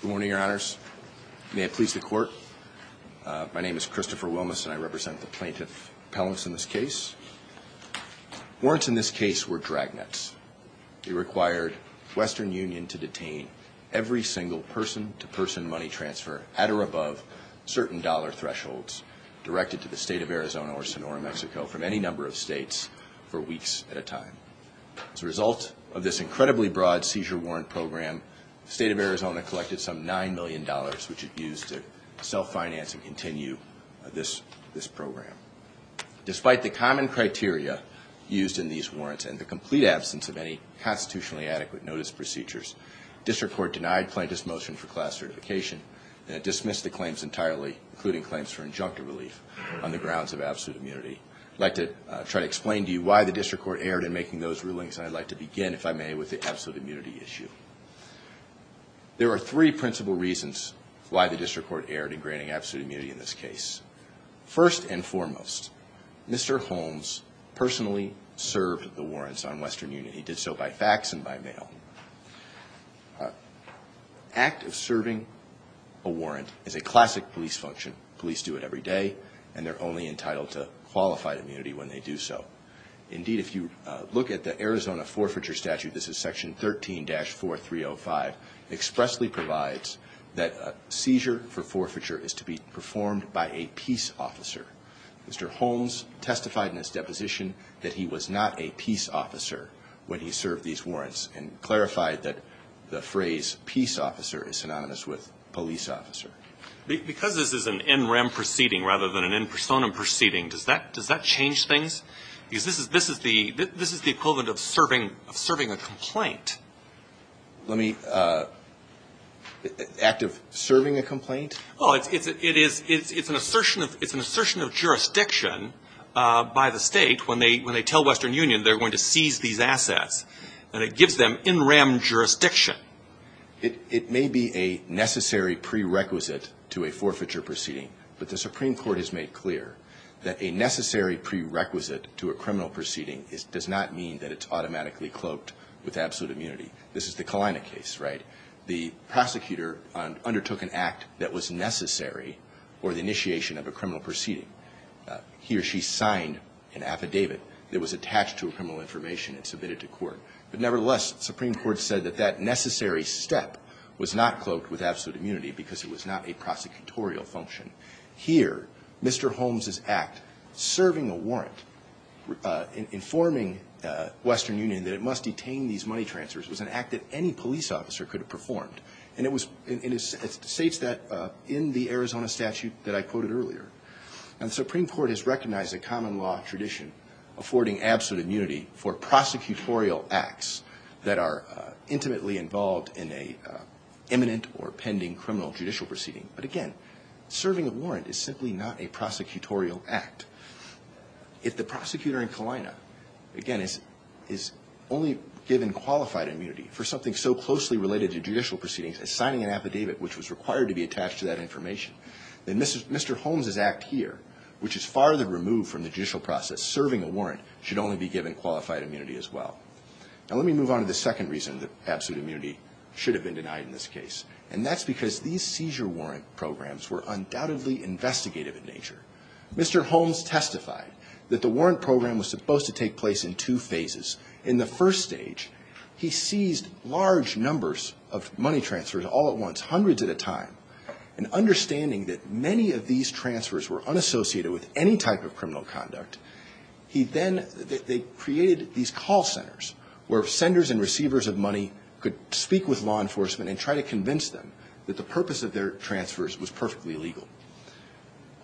Good morning, your honors. May it please the court. My name is Christopher Wilmes, and I represent the plaintiff, Pelham, in this case. Warrants in this case were dragnets. It required Western Union to detain every single person-to-person money transfer at or above certain dollar thresholds directed to the state of Arizona or Sonora, Mexico, from any number of states, for weeks at a time. As a result of this incredibly broad seizure warrant program, the state of Arizona collected some $9 million, which it used to self-finance and continue this program. Despite the common criteria used in these warrants and the complete absence of any constitutionally adequate notice procedures, the district court denied plaintiff's motion for class certification, and it dismissed the claims entirely, including claims for injunctive relief, on the grounds of absolute immunity. I'd like to try to explain to you why the district court erred in making those rulings, and I'd like to begin, if I may, with the absolute immunity issue. There are three principal reasons why the district court erred in granting absolute immunity in this case. First and foremost, Mr. Holmes personally served the warrants on Western Union. He did so by fax and by mail. Act of serving a warrant is a classic police function. Police do it every day, and they're only entitled to qualified immunity when they do so. Indeed, if you look at the Arizona Forfeiture Statute, this is Section 13-4305, expressly provides that a seizure for forfeiture is to be performed by a peace officer. Mr. Holmes testified in his deposition that he was not a peace officer when he served these warrants, and clarified that the phrase peace officer is synonymous with police officer. Because this is an NREM proceeding rather than an N-persona proceeding, does that change things? Because this is the equivalent of serving a complaint. Let me, uh, act of serving a complaint? Oh, it's an assertion of service. It's an assertion of service, but it's an assertion of jurisdiction by the state when they tell Western Union they're going to seize these assets, and it gives them NREM jurisdiction. It may be a necessary prerequisite to a forfeiture proceeding, but the Supreme Court has made clear that a necessary prerequisite to a criminal proceeding does not mean that it's automatically cloaked with absolute immunity. This is the Kalina case, right? The prosecutor undertook an act that was necessary for the initiation of a criminal proceeding. He or she signed an affidavit that was attached to a criminal information and submitted to court. But nevertheless, the Supreme Court said that that necessary step was not cloaked with absolute immunity because it was not a prosecutorial function. Here, Mr. Holmes' act, serving a warrant, informing Western Union that it must detain these money transfers, was an act that any police officer could have performed. And it was, and it states that in the Arizona statute that I quoted earlier. And the Supreme Court has recognized a common law tradition affording absolute immunity for prosecutorial acts that are intimately involved in a imminent or pending criminal judicial proceeding. But again, serving a warrant is simply not a prosecutorial act. If the prosecutor in Kalina, again, is only given qualified immunity for something so closely related to judicial proceedings as signing an affidavit which was required to be attached to that information, then Mr. Holmes' act here, which is farther removed from the judicial process, serving a warrant, should only be given qualified immunity as well. Now let me move on to the second reason that absolute immunity should have been denied in this case. And that's because these seizure warrant programs were undoubtedly investigative in nature. Mr. Holmes testified that the warrant program was supposed to take place in two phases. In the first stage, he seized large numbers of money transfers all at once, hundreds at a time. And understanding that many of these transfers were unassociated with any type of criminal conduct, he then, they created these call centers where senders and receivers of money could speak with law enforcement and try to convince them that the purpose of their transfers was perfectly legal.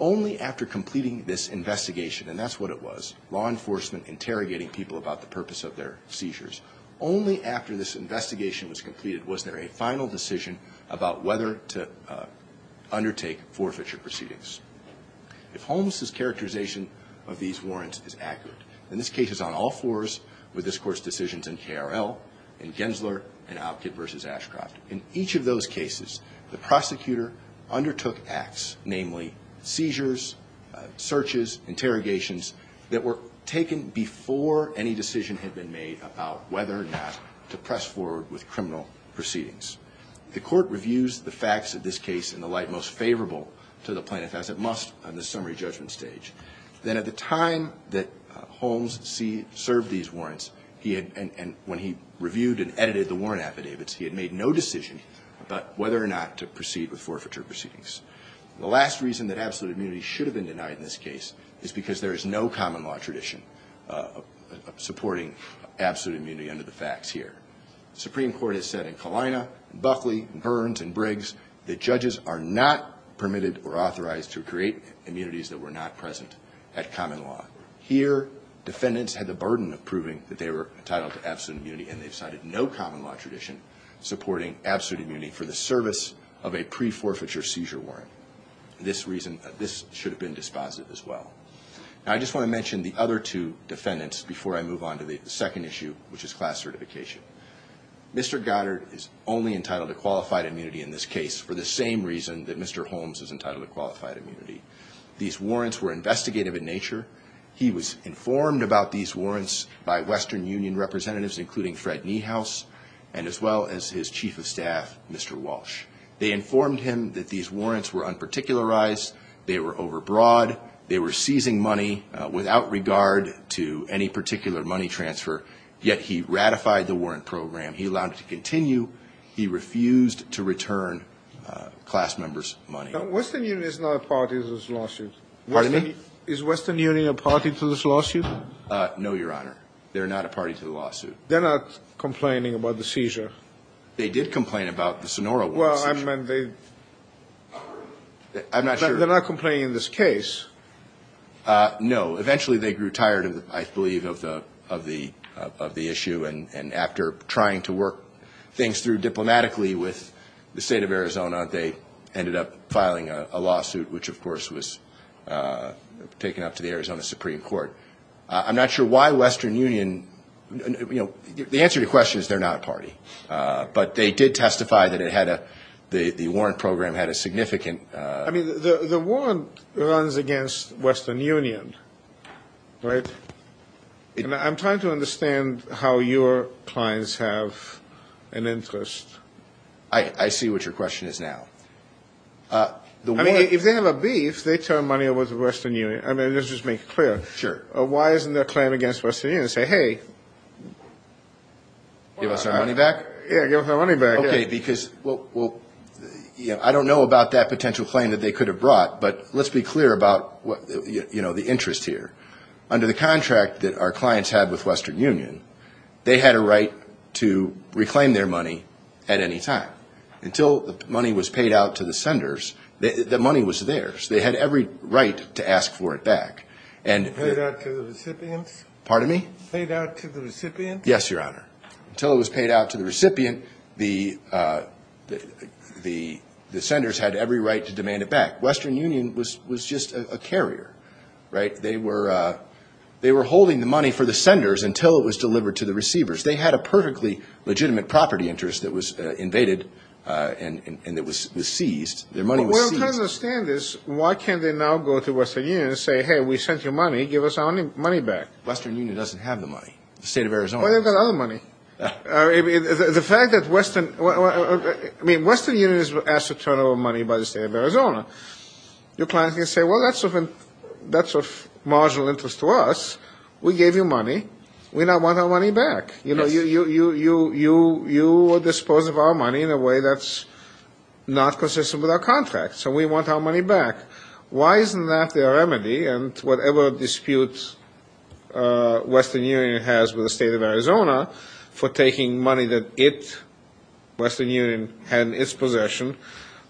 Only after completing this investigation, and that's what it was, law enforcement was there a final decision about whether to undertake forfeiture proceedings. If Holmes' characterization of these warrants is accurate, then this case is on all fours with this Court's decisions in KRL, in Gensler, and Outkitt v. Ashcroft. In each of those cases, the prosecutor undertook acts, namely seizures, searches, interrogations, that were taken before any decision had been made about whether or not to press forward with a warrant. And the prosecutor pressed forward with criminal proceedings. The Court reviews the facts of this case in the light most favorable to the plaintiff as it must on the summary judgment stage. Then at the time that Holmes served these warrants, he had, when he reviewed and edited the warrant affidavits, he had made no decision about whether or not to proceed with forfeiture proceedings. The last reason that absolute immunity should have been denied in this case is that the Supreme Court has said in Kalina and Buckley and Burns and Briggs that judges are not permitted or authorized to create immunities that were not present at common law. Here, defendants had the burden of proving that they were entitled to absolute immunity, and they've cited no common law tradition supporting absolute immunity for the service of a pre-forfeiture seizure warrant. This reason, this should have been dispositive as well. Now, I just want to mention the other two defendants before I move on to the second issue, which is class certification. Mr. Goddard is only entitled to qualified immunity in this case for the same reason that Mr. Holmes is entitled to qualified immunity. These warrants were investigative in nature. He was informed about these warrants by Western Union representatives, including Fred Niehaus, and as well as his chief of staff, Mr. Walsh. They were seizing money without regard to any particular money transfer, yet he ratified the warrant program. He allowed it to continue. He refused to return class members' money. Now, Western Union is not a party to this lawsuit. Pardon me? Is Western Union a party to this lawsuit? No, Your Honor. They're not a party to the lawsuit. They're not complaining about the seizure? They did complain about the Sonora warrant seizure. Well, I meant they... I'm not sure... They're not complaining in this case? No. Eventually, they grew tired, I believe, of the issue, and after trying to work things through diplomatically with the State of Arizona, they ended up filing a lawsuit, which, of course, was taken up to the Arizona Supreme Court. I'm not sure why Western Union... You know, the answer to your question is they're not a party. But they did testify that it had a... the warrant program had a significant... I mean, the warrant runs against Western Union, right? I'm trying to understand how your clients have an interest. I see what your question is now. I mean, if they have a beef, they turn money over to Western Union. I mean, let's just make it clear. Sure. Why isn't their claim against Western Union to say, hey... Give us our money back? Yeah, give us our money back. Okay, because... I don't know about that potential claim that they could have brought, but let's be clear about the interest here. Under the contract that our clients had with Western Union, they had a right to reclaim their money at any time. Until the money was paid out to the senders, the money was theirs. They had every right to ask for it back. Paid out to the recipients? Pardon me? Paid out to the recipients? Yes, Your Honor. Until it was paid out to the recipient, the senders had every right to demand it back. Western Union was just a carrier, right? They were holding the money for the senders until it was delivered to the receivers. They had a perfectly legitimate property interest that was invaded and that was seized. Their money was seized. Well, I'm trying to understand this. Why can't they now go to Western Union and say, hey, we sent you money. Give us our money back. Western Union doesn't have the money. The State of Arizona doesn't. Well, they've got other money. The fact that Western Union is asked to turn over money by the State of Arizona, your client can say, well, that's of marginal interest to us. We gave you money. We now want our money back. You dispose of our money in a way that's not consistent with our contract, so we want our money back. Why isn't that their remedy? And whatever disputes Western Union has with the State of Arizona for taking money that it, Western Union, had in its possession,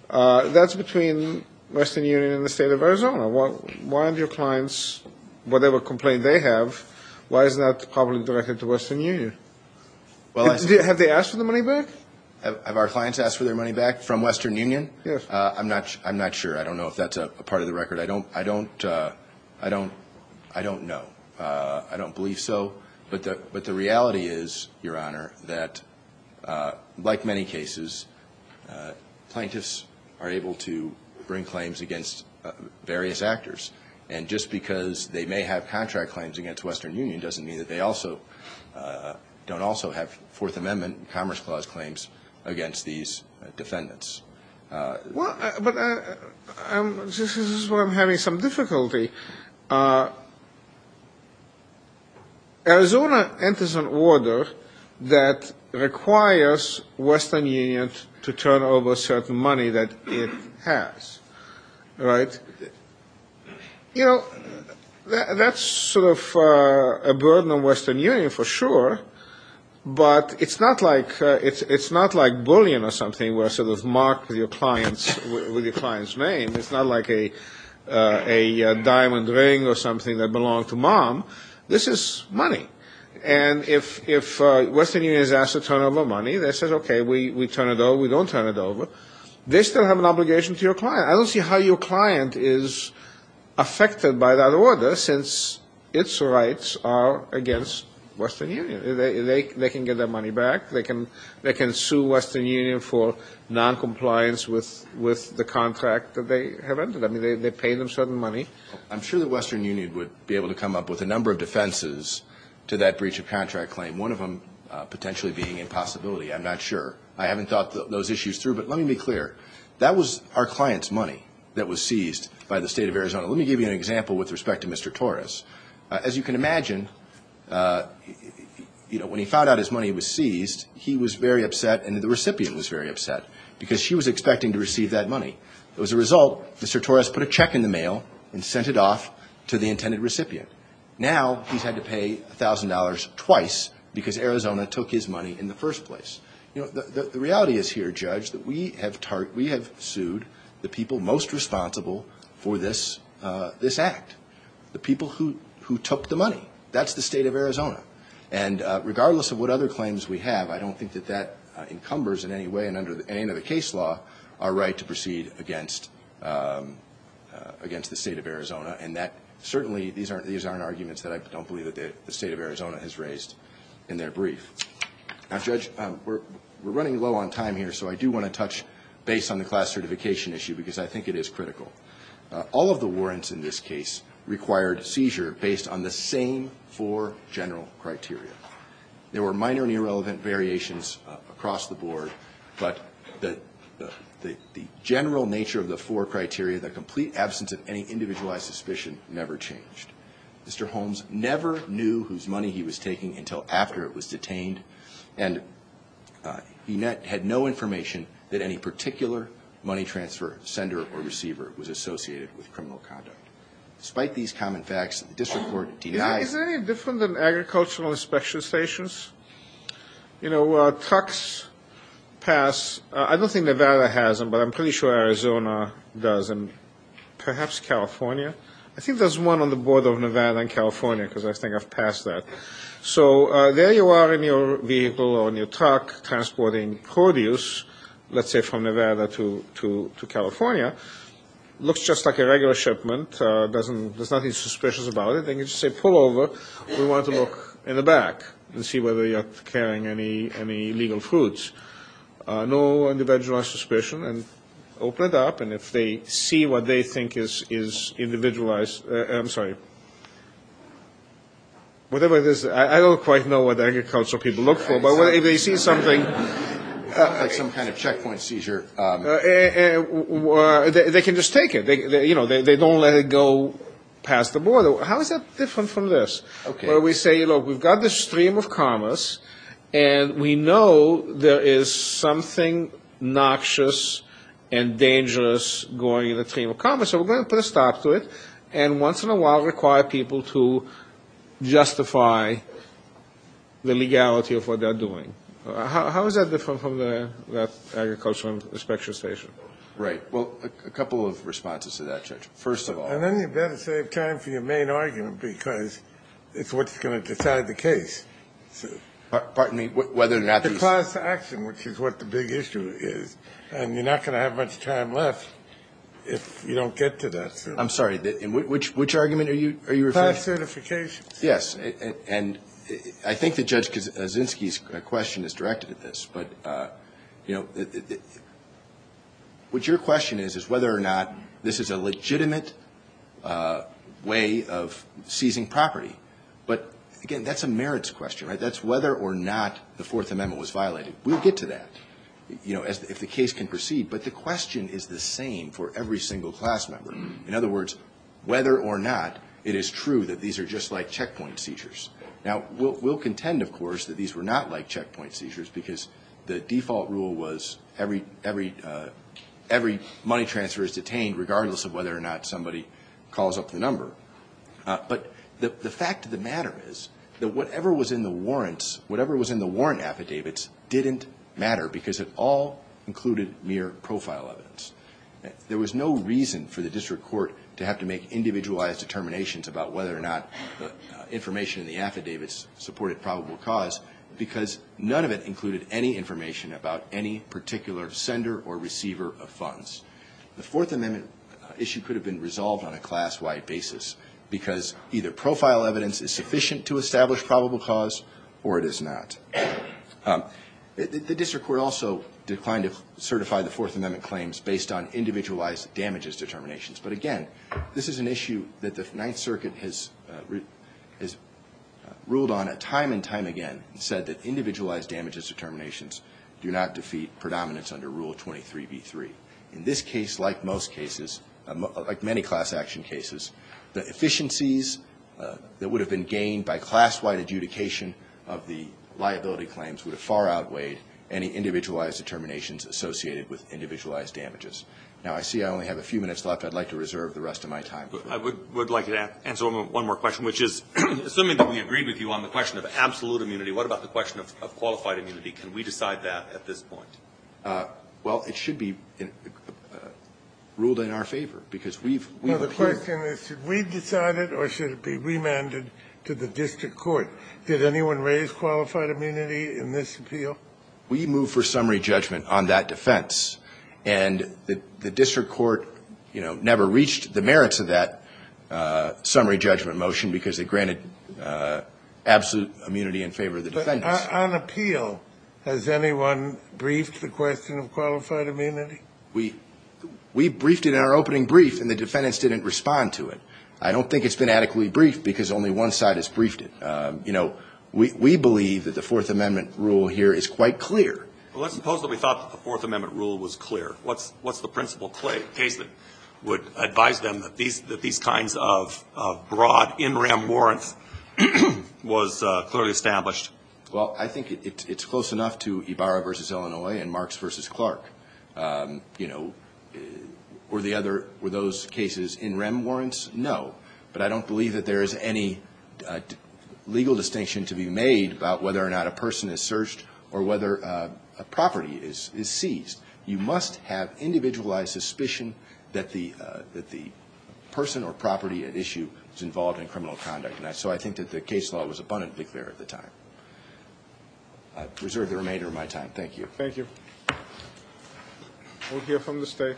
that's between Western Union and the State of Arizona. Why aren't your clients, whatever complaint they have, why isn't that probably directed to Western Union? Have they asked for the money back? Have our clients asked for their money back from Western Union? I'm not sure. I don't know if that's a part of the record. I don't know. I don't believe so. But the reality is, Your Honor, that like many cases, plaintiffs are able to bring claims against various actors. And just because they may have contract claims against Western Union doesn't mean that they also don't also have Fourth Amendment Commerce Clause claims against these defendants. Well, but this is where I'm having some difficulty. Arizona enters an order that requires Western Union to turn over certain money that it has, right? You know, that's sort of a burden on Western Union for sure. But it's not like bullion or something where it's sort of marked with your client's name. It's not like a diamond ring or something that belonged to mom. This is money. And if Western Union is asked to turn over money, they say, okay, we turn it over, we don't turn it over. They still have an obligation to your client. I don't see how your client is affected by that order since its rights are against Western Union. They can get their money back. They can sue Western Union for noncompliance with the contract that they have entered. I mean, they pay them certain money. I'm sure that Western Union would be able to come up with a number of defenses to that breach of contract claim, one of them potentially being impossibility. I'm not sure. I haven't thought those issues through. But let me be clear. That was our client's money that was seized by the State of Arizona. Let me give you an example with respect to Mr. Torres. As you can imagine, you know, when he found out his money was seized, he was very upset and the recipient was very upset because she was expecting to receive that money. As a result, Mr. Torres put a check in the mail and sent it off to the intended recipient. Now he's had to pay $1,000 twice because Arizona took his money in the first place. You know, the reality is here, Judge, that we have sued the people most responsible for this act, the people who took the money. That's the State of Arizona. And regardless of what other claims we have, I don't think that that encumbers in any way and under any other case law our right to proceed against the State of Arizona, and that certainly these aren't arguments that I don't believe that the State of Arizona has raised in their brief. Now, Judge, we're running low on time here, so I do want to touch base on the class certification issue because I think it is critical. All of the warrants in this case required seizure based on the same four general criteria. There were minor and irrelevant variations across the board, but the general nature of the four criteria, the complete absence of any individualized suspicion, never changed. Mr. Holmes never knew whose money he was taking until after it was detained, and he had no information that any particular money transfer sender or receiver was associated with criminal conduct. Despite these common facts, the district court denied it. Is it any different than agricultural inspection stations? You know, trucks pass. I don't think Nevada has them, but I'm pretty sure Arizona does, and perhaps California. I think there's one on the border of Nevada and California because I think I've passed that. So there you are in your vehicle or in your truck transporting produce, let's say from Nevada to California. It looks just like a regular shipment. There's nothing suspicious about it. They can just say pull over. We want to look in the back and see whether you're carrying any legal fruits. No individualized suspicion, and open it up. And if they see what they think is individualized, I'm sorry, whatever it is, I don't quite know what agricultural people look for, but if they see something. Like some kind of checkpoint seizure. They can just take it. You know, they don't let it go past the border. How is that different from this? Where we say, look, we've got this stream of commerce, and we know there is something noxious and dangerous going in the stream of commerce, so we're going to put a stop to it, and once in a while require people to justify the legality of what they're doing. How is that different from the agricultural inspection station? Right. Well, a couple of responses to that, Judge. First of all. And then you better save time for your main argument, because it's what's going to decide the case. Pardon me? The class action, which is what the big issue is. And you're not going to have much time left if you don't get to that. I'm sorry. Which argument are you referring to? Class certifications. Yes. And I think that Judge Kaczynski's question is directed at this. But, you know, what your question is is whether or not this is a legitimate way of seizing property. But, again, that's a merits question, right? That's whether or not the Fourth Amendment was violated. We'll get to that, you know, if the case can proceed. But the question is the same for every single class member. In other words, whether or not it is true that these are just like checkpoint seizures. Now, we'll contend, of course, that these were not like checkpoint seizures, because the default rule was every money transfer is detained, regardless of whether or not somebody calls up the number. But the fact of the matter is that whatever was in the warrants, whatever was in the warrant affidavits, didn't matter because it all included mere profile evidence. There was no reason for the district court to have to make individualized determinations about whether or not the information in the affidavits supported probable cause, because none of it included any information about any particular sender or receiver of funds. The Fourth Amendment issue could have been resolved on a class-wide basis, because either profile evidence is sufficient to establish probable cause or it is not. The district court also declined to certify the Fourth Amendment claims based on individualized damages determinations. But, again, this is an issue that the Ninth Circuit has ruled on time and time again and said that individualized damages determinations do not defeat predominance under Rule 23b-3. In this case, like most cases, like many class action cases, the efficiencies that would have been gained by class-wide adjudication of the liability claims would have far outweighed any individualized determinations associated with individualized damages. Now, I see I only have a few minutes left. I'd like to reserve the rest of my time. I would like to answer one more question, which is, assuming that we agreed with you on the question of absolute immunity, what about the question of qualified immunity? Can we decide that at this point? Well, it should be ruled in our favor, because we've appealed. Well, the question is, should we decide it or should it be remanded to the district court? Did anyone raise qualified immunity in this appeal? We move for summary judgment on that defense. And the district court, you know, never reached the merits of that summary judgment motion because it granted absolute immunity in favor of the defendants. But on appeal, has anyone briefed the question of qualified immunity? We briefed it in our opening brief, and the defendants didn't respond to it. I don't think it's been adequately briefed, because only one side has briefed it. We believe that the Fourth Amendment rule here is quite clear. Well, let's suppose that we thought that the Fourth Amendment rule was clear. What's the principle case that would advise them that these kinds of broad in rem warrants was clearly established? Well, I think it's close enough to Ibarra v. Illinois and Marks v. Clark. You know, were those cases in rem warrants? No. But I don't believe that there is any legal distinction to be made about whether or not a person is searched or whether a property is seized. You must have individualized suspicion that the person or property at issue is involved in criminal conduct. So I think that the case law was abundantly clear at the time. I reserve the remainder of my time. Thank you. Thank you. We'll hear from the State.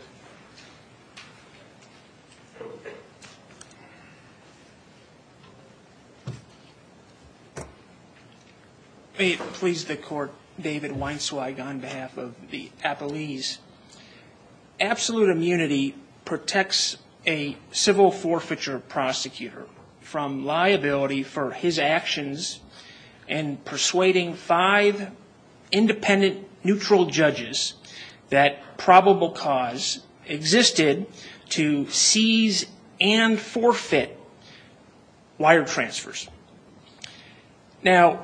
May it please the Court. David Weinsweig on behalf of the Appellees. Absolute immunity protects a civil forfeiture prosecutor from liability for his actions in persuading five independent neutral judges that probable cause existed to seize and forfeit wire transfers. Now,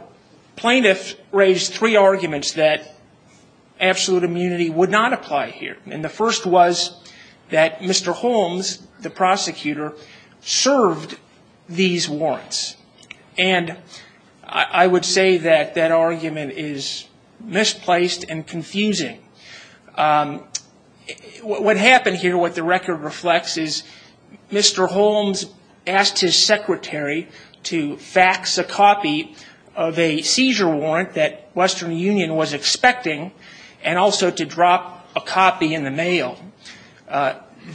plaintiffs raised three arguments that absolute immunity would not apply here. And the first was that Mr. Holmes, the prosecutor, served these warrants. And I would say that that argument is misplaced and confusing. What happened here, what the record reflects, is Mr. Holmes asked his secretary to fax a copy of a seizure warrant that Western Union was expecting and also to drop a copy in the mail.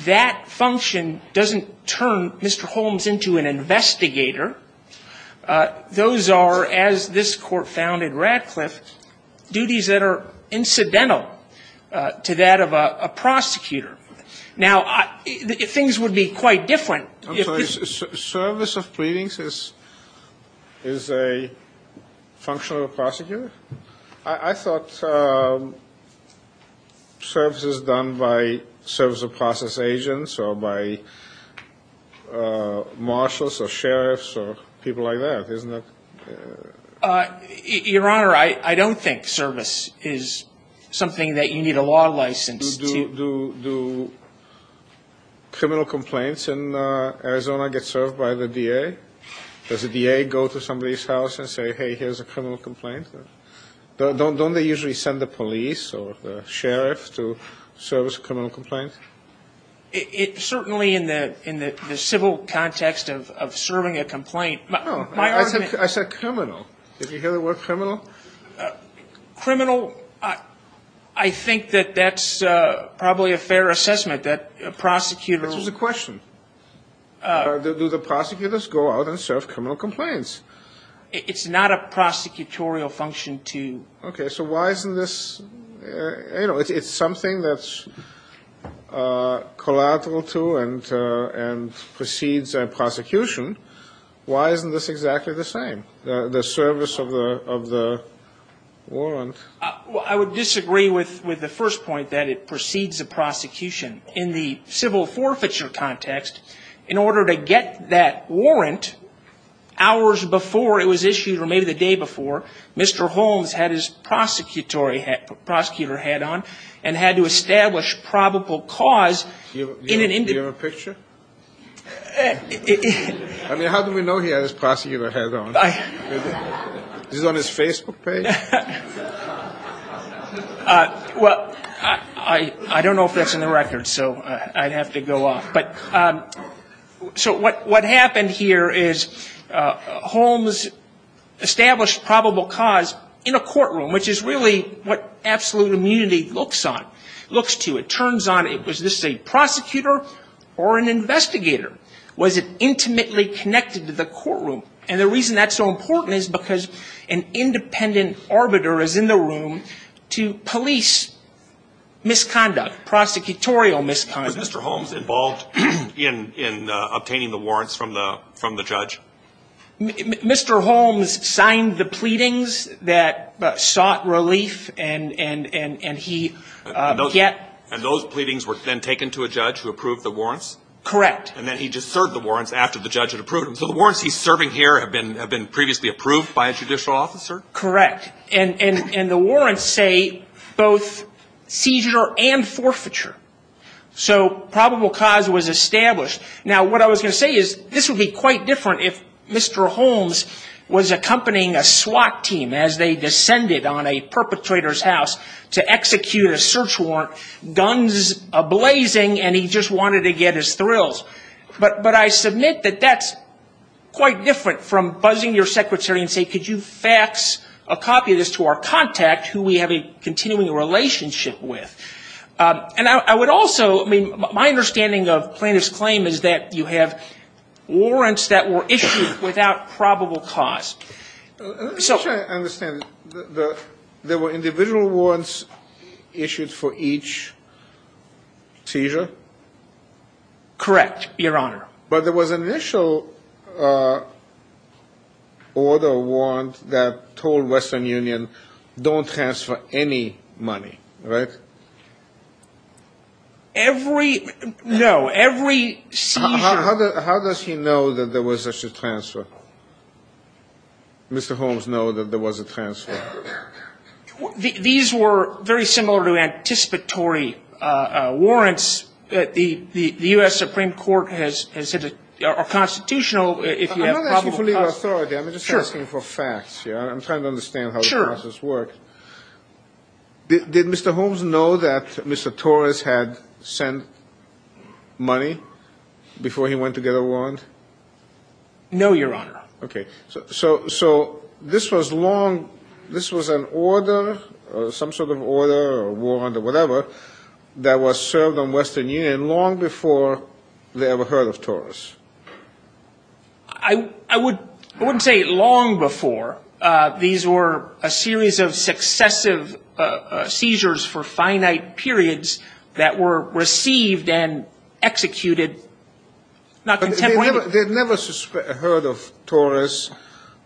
That function doesn't turn Mr. Holmes into an investigator. Those are, as this Court found in Radcliffe, duties that are incidental to that of a prosecutor. Now, things would be quite different. I'm sorry. Service of pleadings is a function of a prosecutor? I thought service is done by service of process agents or by marshals or sheriffs or people like that, isn't it? Your Honor, I don't think service is something that you need a law license to. Do criminal complaints in Arizona get served by the DA? Does the DA go to somebody's house and say, hey, here's a criminal complaint? Don't they usually send the police or the sheriff to service a criminal complaint? Certainly in the civil context of serving a complaint. No, I said criminal. Did you hear the word criminal? Criminal, I think that that's probably a fair assessment, that a prosecutor will. This was a question. Do the prosecutors go out and serve criminal complaints? It's not a prosecutorial function to. Okay, so why isn't this, you know, it's something that's collateral to and precedes a prosecution. Why isn't this exactly the same, the service of the warrant? I would disagree with the first point, that it precedes a prosecution. In the civil forfeiture context, in order to get that warrant hours before it was issued or maybe the day before, Mr. Holmes had his prosecutor hat on and had to establish probable cause in an individual. Do you have a picture? I mean, how do we know he had his prosecutor hat on? Is this on his Facebook page? Well, I don't know if that's in the record, so I'd have to go off. But so what happened here is Holmes established probable cause in a courtroom, which is really what absolute immunity looks on, looks to. It turns on, was this a prosecutor or an investigator? Was it intimately connected to the courtroom? And the reason that's so important is because an independent arbiter is in the room to police misconduct, prosecutorial misconduct. Was Mr. Holmes involved in obtaining the warrants from the judge? Mr. Holmes signed the pleadings that sought relief, and he yet. And those pleadings were then taken to a judge who approved the warrants? Correct. And then he just served the warrants after the judge had approved them. So the warrants he's serving here have been previously approved by a judicial officer? Correct. And the warrants say both seizure and forfeiture. So probable cause was established. Now, what I was going to say is this would be quite different if Mr. Holmes was accompanying a SWAT team as they descended on a perpetrator's house to execute a search warrant, guns ablazing, and he just wanted to get his thrills. But I submit that that's quite different from buzzing your secretary and saying, could you fax a copy of this to our contact who we have a continuing relationship with? And I would also, I mean, my understanding of plaintiff's claim is that you have warrants that were issued without probable cause. I'm just trying to understand. There were individual warrants issued for each seizure? Correct, Your Honor. But there was an initial order warrant that told Western Union don't transfer any money, right? Every, no, every seizure. How does he know that there was such a transfer? These were very similar to anticipatory warrants that the U.S. Supreme Court has said are constitutional if you have probable cause. I'm not asking for legal authority. I'm just asking for facts. I'm trying to understand how the process worked. Did Mr. Holmes know that Mr. Torres had sent money before he went to get a warrant? No, Your Honor. Okay. So this was long, this was an order, some sort of order or warrant or whatever, that was served on Western Union long before they ever heard of Torres? I wouldn't say long before. These were a series of successive seizures for finite periods that were received and executed not contemporaneously. They had never heard of Torres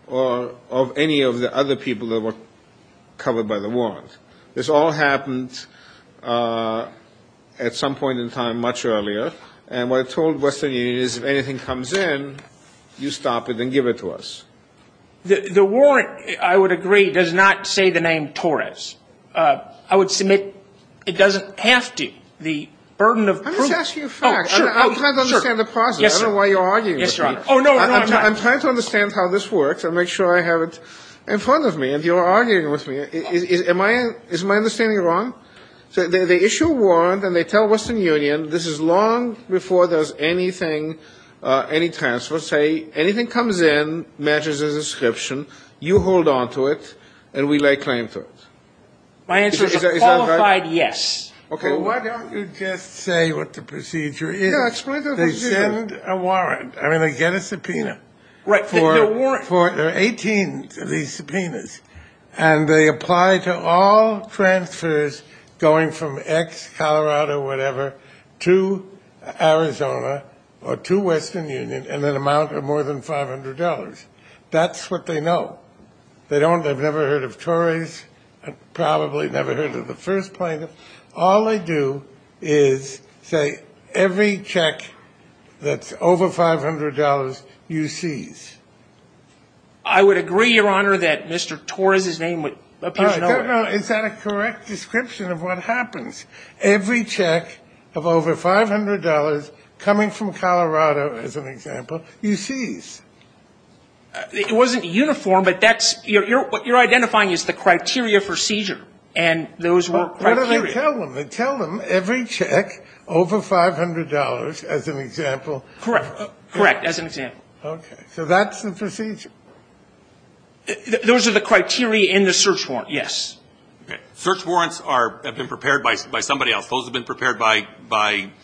or of any of the other people that were covered by the warrant. This all happened at some point in time much earlier. And what it told Western Union is if anything comes in, you stop it and give it to us. The warrant, I would agree, does not say the name Torres. I would submit it doesn't have to. The burden of proof. I'm just asking for facts. I'm trying to understand the process. I don't know why you're arguing with me. Yes, Your Honor. Oh, no, no, I'm not. I'm trying to understand how this works and make sure I have it in front of me and you're arguing with me. Is my understanding wrong? They issue a warrant and they tell Western Union this is long before there's anything, any transfer, say anything comes in, matches the description, you hold on to it, and we lay claim to it. My answer is a qualified yes. Well, why don't you just say what the procedure is? Yeah, explain the procedure. They send a warrant. I mean, they get a subpoena. Right, they get a warrant. There are 18 of these subpoenas. And they apply to all transfers going from X, Colorado, whatever, to Arizona or to Western Union in an amount of more than $500. That's what they know. They've never heard of Torres and probably never heard of the first plaintiff. All they do is say every check that's over $500 you seize. I would agree, Your Honor, that Mr. Torres' name would appear nowhere. Is that a correct description of what happens? Every check of over $500 coming from Colorado, as an example, you seize. It wasn't uniform, but that's what you're identifying is the criteria for seizure, and those were criteria. They tell them. They tell them every check over $500, as an example. Correct. Correct, as an example. Okay. So that's the procedure. Those are the criteria in the search warrant, yes. Okay. Search warrants have been prepared by somebody else. Those have been prepared by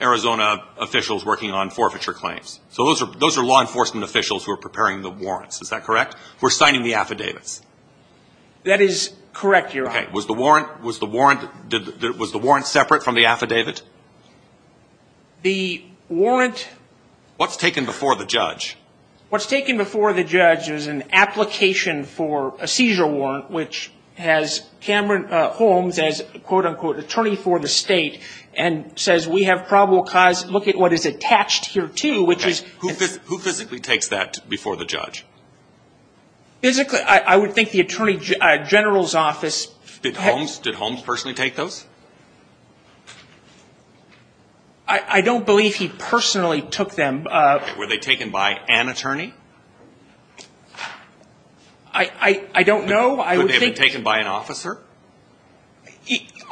Arizona officials working on forfeiture claims. So those are law enforcement officials who are preparing the warrants. Is that correct? Who are signing the affidavits. That is correct, Your Honor. Okay. Was the warrant separate from the affidavit? The warrant. What's taken before the judge? What's taken before the judge is an application for a seizure warrant, which has Cameron Holmes as, quote, unquote, attorney for the state, and says we have probable cause. Look at what is attached here, too, which is. Who physically takes that before the judge? Physically, I would think the Attorney General's office. Did Holmes personally take those? I don't believe he personally took them. Were they taken by an attorney? I don't know. Could they have been taken by an officer?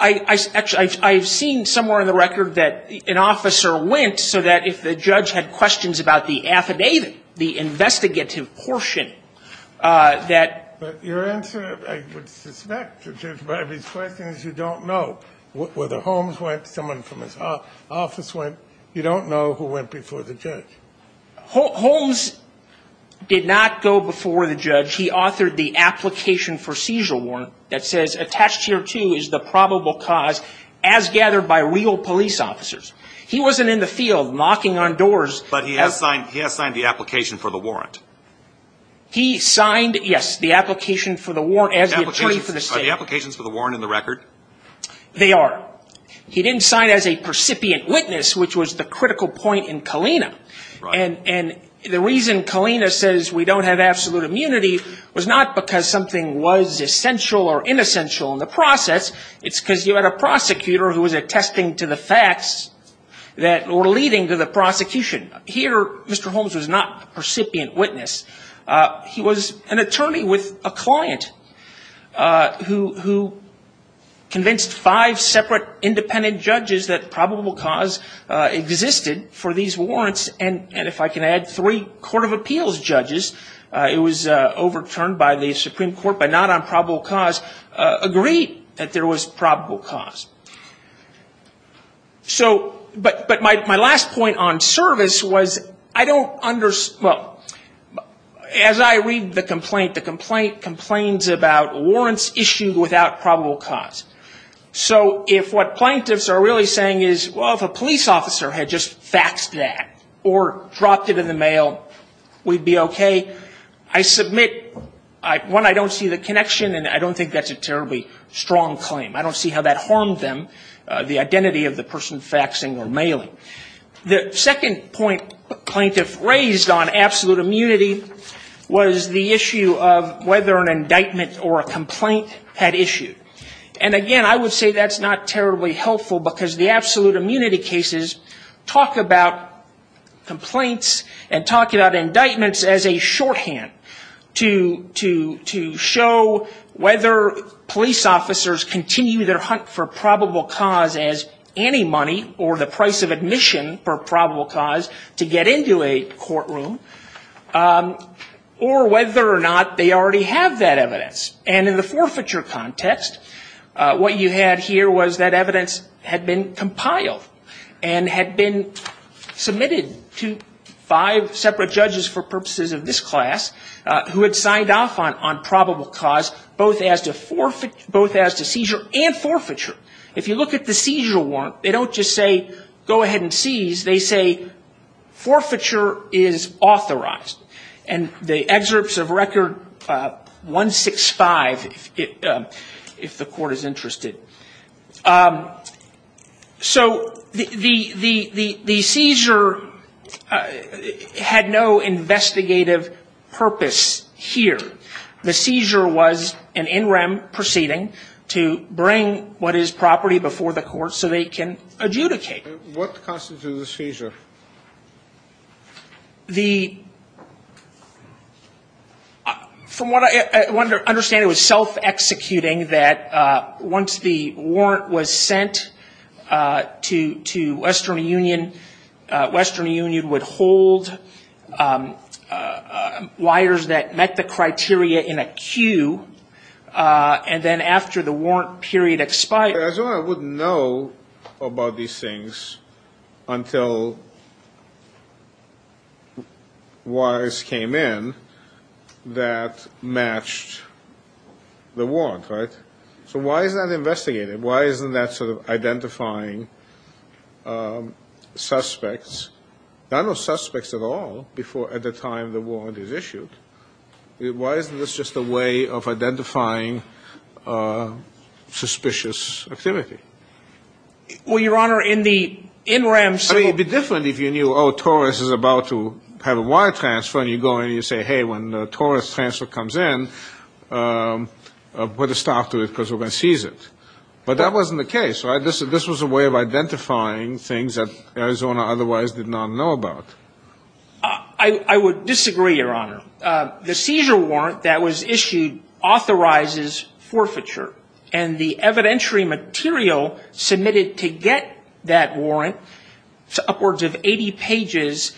I've seen somewhere in the record that an officer went so that if the judge had questions about the affidavit, the investigative portion that. But your answer, I would suspect, to Judge Barbee's question is you don't know whether Holmes went, someone from his office went. You don't know who went before the judge. Holmes did not go before the judge. He authored the application for seizure warrant that says attached here, too, is the probable cause, as gathered by real police officers. He wasn't in the field knocking on doors. But he has signed the application for the warrant. He signed, yes, the application for the warrant as the attorney for the state. Are the applications for the warrant in the record? They are. He didn't sign as a percipient witness, which was the critical point in Kalina. And the reason Kalina says we don't have absolute immunity was not because something was essential or inessential in the process. It's because you had a prosecutor who was attesting to the facts that were leading to the prosecution. Here, Mr. Holmes was not a percipient witness. He was an attorney with a client who convinced five separate independent judges that probable cause existed for these warrants. And if I can add, three court of appeals judges, it was overturned by the Supreme Court, but not on probable cause, agreed that there was probable cause. But my last point on service was I don't understand, well, as I read the complaint, the complaint complains about warrants issued without probable cause. So if what plaintiffs are really saying is, well, if a police officer had just faxed that or dropped it in the mail, we'd be okay. I submit, one, I don't see the connection, and I don't think that's a terribly strong claim. I don't see how that harmed them, the identity of the person faxing or mailing. The second point plaintiff raised on absolute immunity was the issue of whether an indictment or a complaint had issued. And, again, I would say that's not terribly helpful because the absolute immunity cases talk about complaints and talk about indictments as a shorthand to show whether police officers continue their hunt for probable cause as any money or the price of admission for probable cause to get into a courtroom, or whether or not they already have that evidence. And in the forfeiture context, what you had here was that evidence had been compiled and had been submitted to five separate judges for purposes of this class who had signed off on probable cause both as to seizure and forfeiture. If you look at the seizure warrant, they don't just say go ahead and seize. They say forfeiture is authorized. And the excerpts of Record 165, if the court is interested. So the seizure had no investigative purpose here. The seizure was an in rem proceeding to bring what is property before the court so they can adjudicate. What constitutes a seizure? From what I understand, it was self-executing that once the warrant was sent to Western Union, Western Union would hold liars that met the criteria in a queue. And then after the warrant period expired. I wouldn't know about these things until wires came in that matched the warrant, right? So why is that investigated? Why isn't that sort of identifying suspects? I don't know suspects at all before at the time the warrant is issued. Why isn't this just a way of identifying suspicious activity? Well, Your Honor, in the in rem. I mean, it would be different if you knew, oh, Torres is about to have a wire transfer, and you go in and you say, hey, when Torres transfer comes in, put a stop to it because we're going to seize it. But that wasn't the case, right? This was a way of identifying things that Arizona otherwise did not know about. I would disagree, Your Honor. The seizure warrant that was issued authorizes forfeiture. And the evidentiary material submitted to get that warrant, upwards of 80 pages,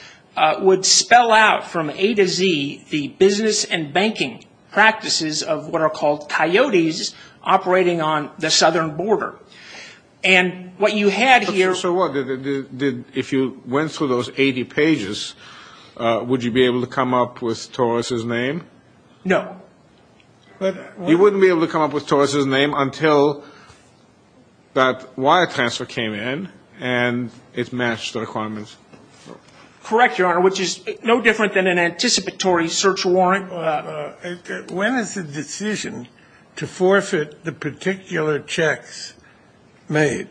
would spell out from A to Z the business and banking practices of what are called coyotes operating on the southern border. And what you had here. If you went through those 80 pages, would you be able to come up with Torres's name? No. You wouldn't be able to come up with Torres's name until that wire transfer came in and it matched the requirements. Correct, Your Honor, which is no different than an anticipatory search warrant. When is the decision to forfeit the particular checks made?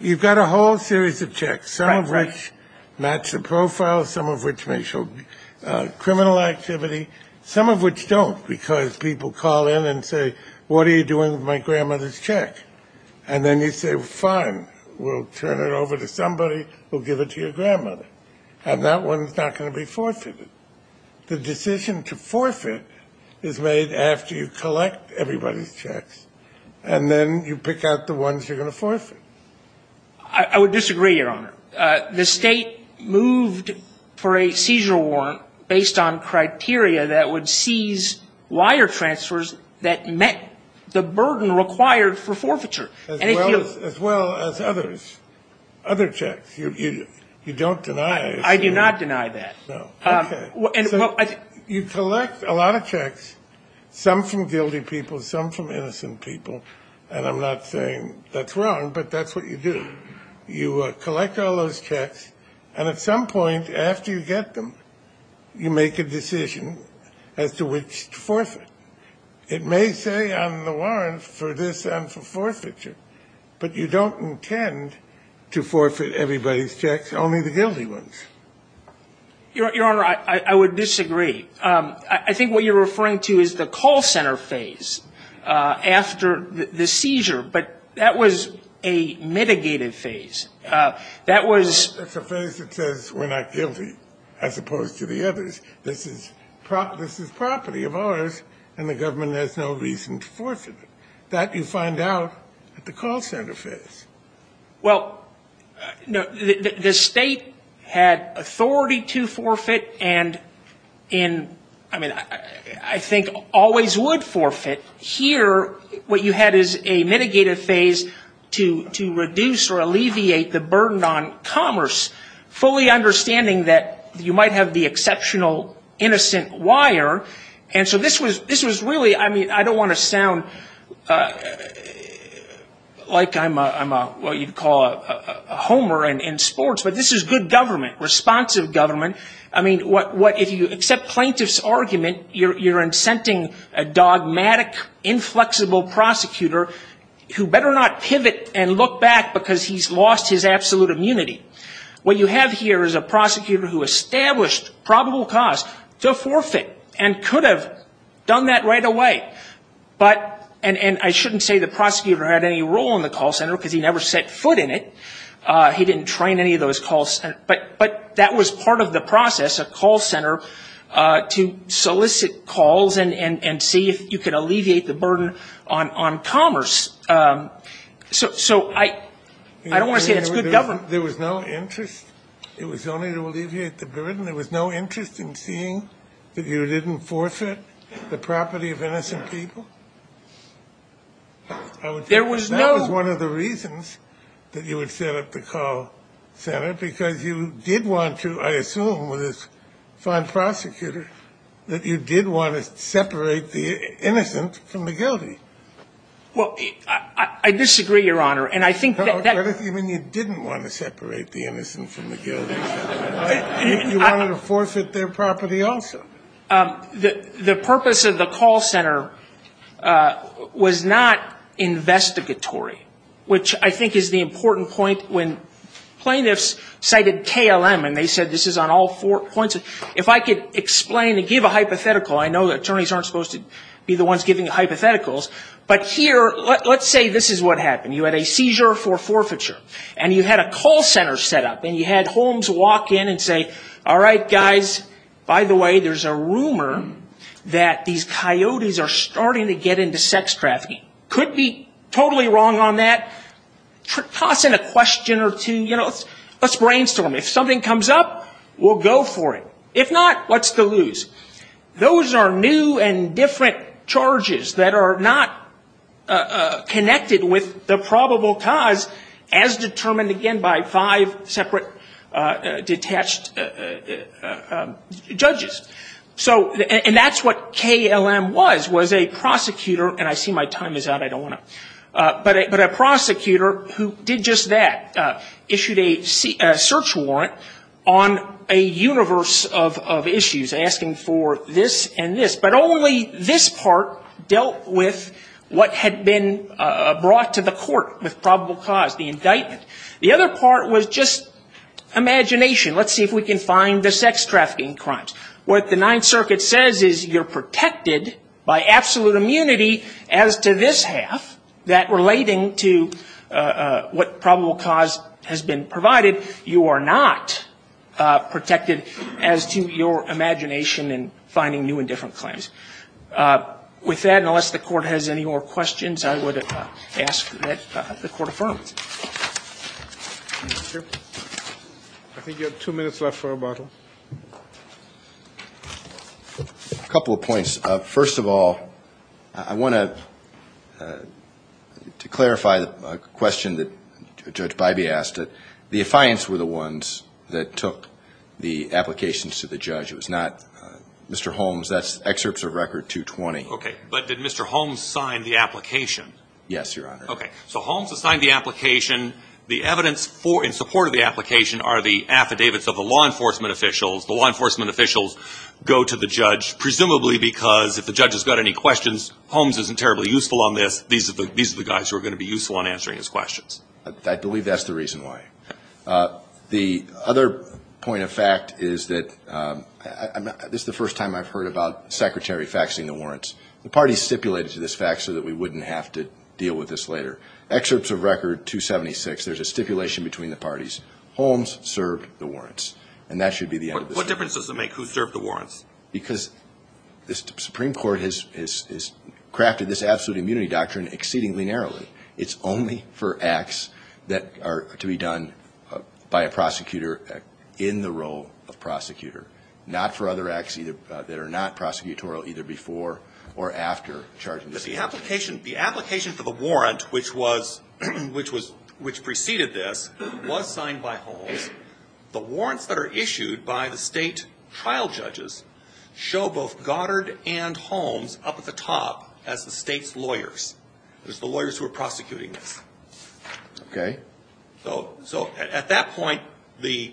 You've got a whole series of checks, some of which match the profile, some of which may show criminal activity, some of which don't because people call in and say, what are you doing with my grandmother's check? And then you say, fine, we'll turn it over to somebody who will give it to your grandmother. And that one is not going to be forfeited. The decision to forfeit is made after you collect everybody's checks. And then you pick out the ones you're going to forfeit. I would disagree, Your Honor. The state moved for a seizure warrant based on criteria that would seize wire transfers that met the burden required for forfeiture. As well as others. Other checks. You don't deny it. I do not deny that. You collect a lot of checks, some from guilty people, some from innocent people. And I'm not saying that's wrong, but that's what you do. You collect all those checks. And at some point after you get them, you make a decision as to which to forfeit. It may say on the warrant for this and for forfeiture. But you don't intend to forfeit everybody's checks, only the guilty ones. Your Honor, I would disagree. I think what you're referring to is the call center phase. After the seizure. But that was a mitigated phase. That was. That's a phase that says we're not guilty. As opposed to the others. This is property of ours, and the government has no reason to forfeit it. That you find out at the call center phase. Well, the state had authority to forfeit. And in, I mean, I think always would forfeit. Here what you had is a mitigated phase to reduce or alleviate the burden on commerce. Fully understanding that you might have the exceptional innocent wire. And so this was really, I mean, I don't want to sound like I'm what you'd call a homer in sports. But this is good government. Responsive government. I mean, if you accept plaintiff's argument, you're incenting a dogmatic, inflexible prosecutor who better not pivot and look back because he's lost his absolute immunity. What you have here is a prosecutor who established probable cause to forfeit and could have done that right away. But, and I shouldn't say the prosecutor had any role in the call center because he never set foot in it. He didn't train any of those calls. But that was part of the process, a call center, to solicit calls and see if you could alleviate the burden on commerce. So I don't want to say that's good government. There was no interest. It was only to alleviate the burden. There was no interest in seeing that you didn't forfeit the property of innocent people. I would think that was one of the reasons that you would set up the call center because you did want to, I assume, with this fine prosecutor, that you did want to separate the innocent from the guilty. Well, I disagree, Your Honor. I mean, you didn't want to separate the innocent from the guilty. You wanted to forfeit their property also. The purpose of the call center was not investigatory, which I think is the important point. When plaintiffs cited KLM and they said this is on all four points, if I could explain and give a hypothetical, I know that attorneys aren't supposed to be the ones giving hypotheticals, but here, let's say this is what happened. You had a seizure for forfeiture, and you had a call center set up, and you had Holmes walk in and say, all right, guys, by the way, there's a rumor that these coyotes are starting to get into sex trafficking. Could be totally wrong on that. Toss in a question or two. Let's brainstorm. If something comes up, we'll go for it. If not, what's to lose? Those are new and different charges that are not connected with the probable cause as determined, again, by five separate detached judges. And that's what KLM was, was a prosecutor, and I see my time is out. I don't want to. But a prosecutor who did just that, issued a search warrant on a universe of issues, asking for this and this. But only this part dealt with what had been brought to the court with probable cause, the indictment. The other part was just imagination. Let's see if we can find the sex trafficking crimes. What the Ninth Circuit says is you're protected by absolute immunity as to this half, that relating to what probable cause has been provided, you are not protected as to your imagination in finding new and different claims. With that, unless the Court has any more questions, I would ask that the Court affirm. Thank you. I think you have two minutes left for rebuttal. A couple of points. First of all, I want to clarify a question that Judge Bybee asked. The affiance were the ones that took the applications to the judge. It was not Mr. Holmes. That's excerpts of Record 220. Okay. But did Mr. Holmes sign the application? Yes, Your Honor. Okay. So Holmes assigned the application. The evidence in support of the application are the affidavits of the law enforcement officials. The law enforcement officials go to the judge presumably because if the judge has got any questions, Holmes isn't terribly useful on this. These are the guys who are going to be useful on answering his questions. I believe that's the reason why. The other point of fact is that this is the first time I've heard about the Secretary faxing the warrants. The parties stipulated to this fax so that we wouldn't have to deal with this later. Excerpts of Record 276, there's a stipulation between the parties. Holmes served the warrants, and that should be the end of this case. What difference does it make who served the warrants? Because the Supreme Court has crafted this absolute immunity doctrine exceedingly narrowly. It's only for acts that are to be done by a prosecutor in the role of prosecutor, not for other acts that are not prosecutorial either before or after charging the statute. But the application for the warrant which preceded this was signed by Holmes. The warrants that are issued by the State trial judges show both Goddard and Holmes up at the top as the State's lawyers. It was the lawyers who were prosecuting this. Okay. So at that point, the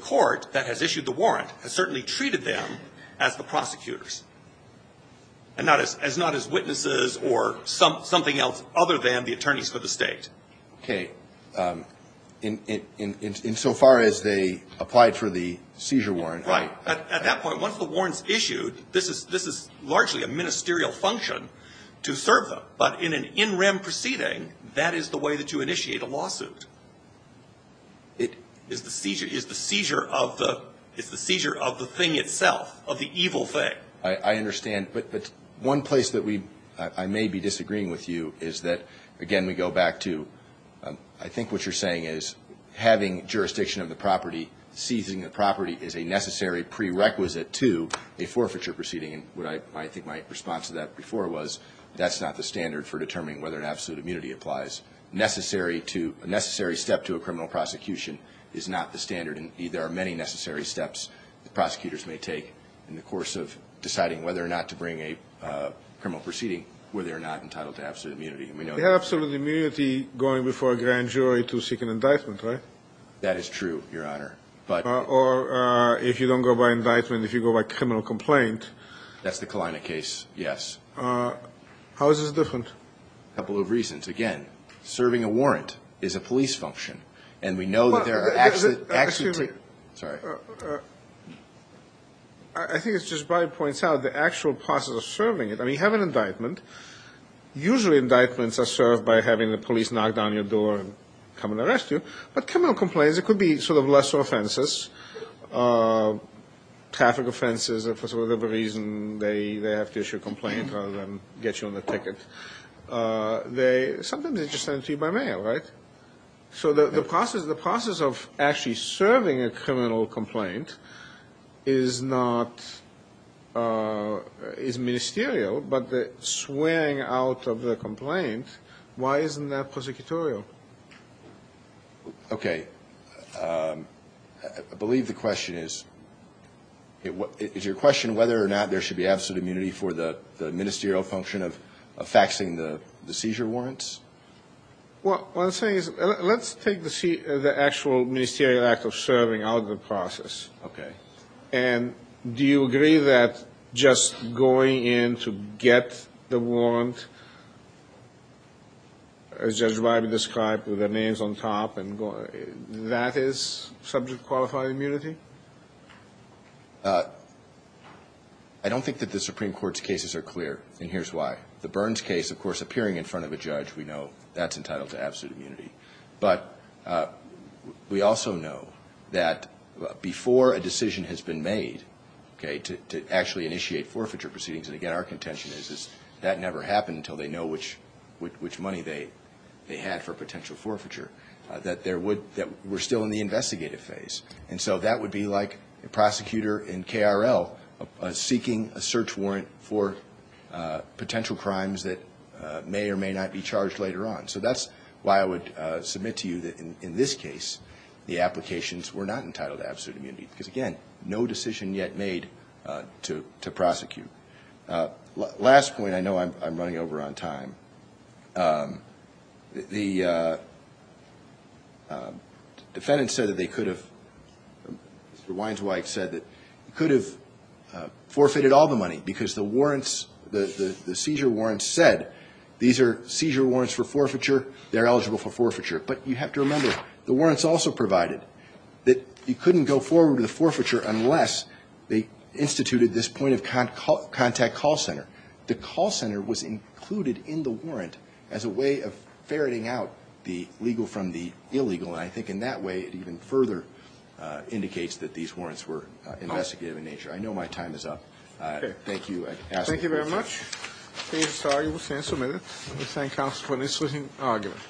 court that has issued the warrant has certainly treated them as the prosecutors and not as witnesses or something else other than the attorneys for the State. Okay. Insofar as they applied for the seizure warrant, right? Right. At that point, once the warrant's issued, this is largely a ministerial function to serve them. But in an in-rem proceeding, that is the way that you initiate a lawsuit. It is the seizure of the thing itself, of the evil thing. I understand. But one place that I may be disagreeing with you is that, again, we go back to I think what you're saying is having jurisdiction of the property, seizing the property is a necessary prerequisite to a forfeiture proceeding. And I think my response to that before was that's not the standard for determining whether an absolute immunity applies. A necessary step to a criminal prosecution is not the standard, and there are many necessary steps prosecutors may take in the course of deciding whether or not to bring a criminal proceeding where they are not entitled to absolute immunity. We have absolute immunity going before a grand jury to seek an indictment, right? That is true, Your Honor. Or if you don't go by indictment, if you go by criminal complaint. That's the Kalina case, yes. How is this different? A couple of reasons. Again, serving a warrant is a police function, and we know that there are actually two. Excuse me. Sorry. I think it just probably points out the actual process of serving it. I mean, you have an indictment. Usually indictments are served by having the police knock down your door and come and arrest you. But criminal complaints, it could be sort of lesser offenses, traffic offenses, and for whatever reason they have to issue a complaint rather than get you on the ticket. Sometimes they just send it to you by mail, right? So the process of actually serving a criminal complaint is ministerial, but the swearing out of the complaint, why isn't that prosecutorial? Okay. I believe the question is, is your question whether or not there should be absolute immunity for the ministerial function of faxing the seizure warrants? Well, what I'm saying is let's take the actual ministerial act of serving out of the process. Okay. And do you agree that just going in to get the warrant, as Judge Riley described with their names on top, that is subject to qualified immunity? I don't think that the Supreme Court's cases are clear, and here's why. The Burns case, of course, appearing in front of a judge, we know that's entitled to absolute immunity. But we also know that before a decision has been made, okay, to actually initiate forfeiture proceedings, and again our contention is that never happened until they know which money they had for potential forfeiture, that we're still in the investigative phase. And so that would be like a prosecutor in KRL seeking a search warrant for potential crimes that may or may not be charged later on. So that's why I would submit to you that in this case the applications were not entitled to absolute immunity, because, again, no decision yet made to prosecute. Last point, I know I'm running over on time. The defendants said that they could have, Mr. Weinzweig said that, could have forfeited all the money because the warrants, the seizure warrants said, these are seizure warrants for forfeiture, they're eligible for forfeiture. But you have to remember the warrants also provided that you couldn't go forward with forfeiture unless they instituted this point of contact call center. The call center was included in the warrant as a way of ferreting out the legal from the illegal, and I think in that way it even further indicates that these warrants were investigative in nature. I know my time is up. Thank you. Thank you very much. This argument stands submitted. We thank counsel for an interesting argument.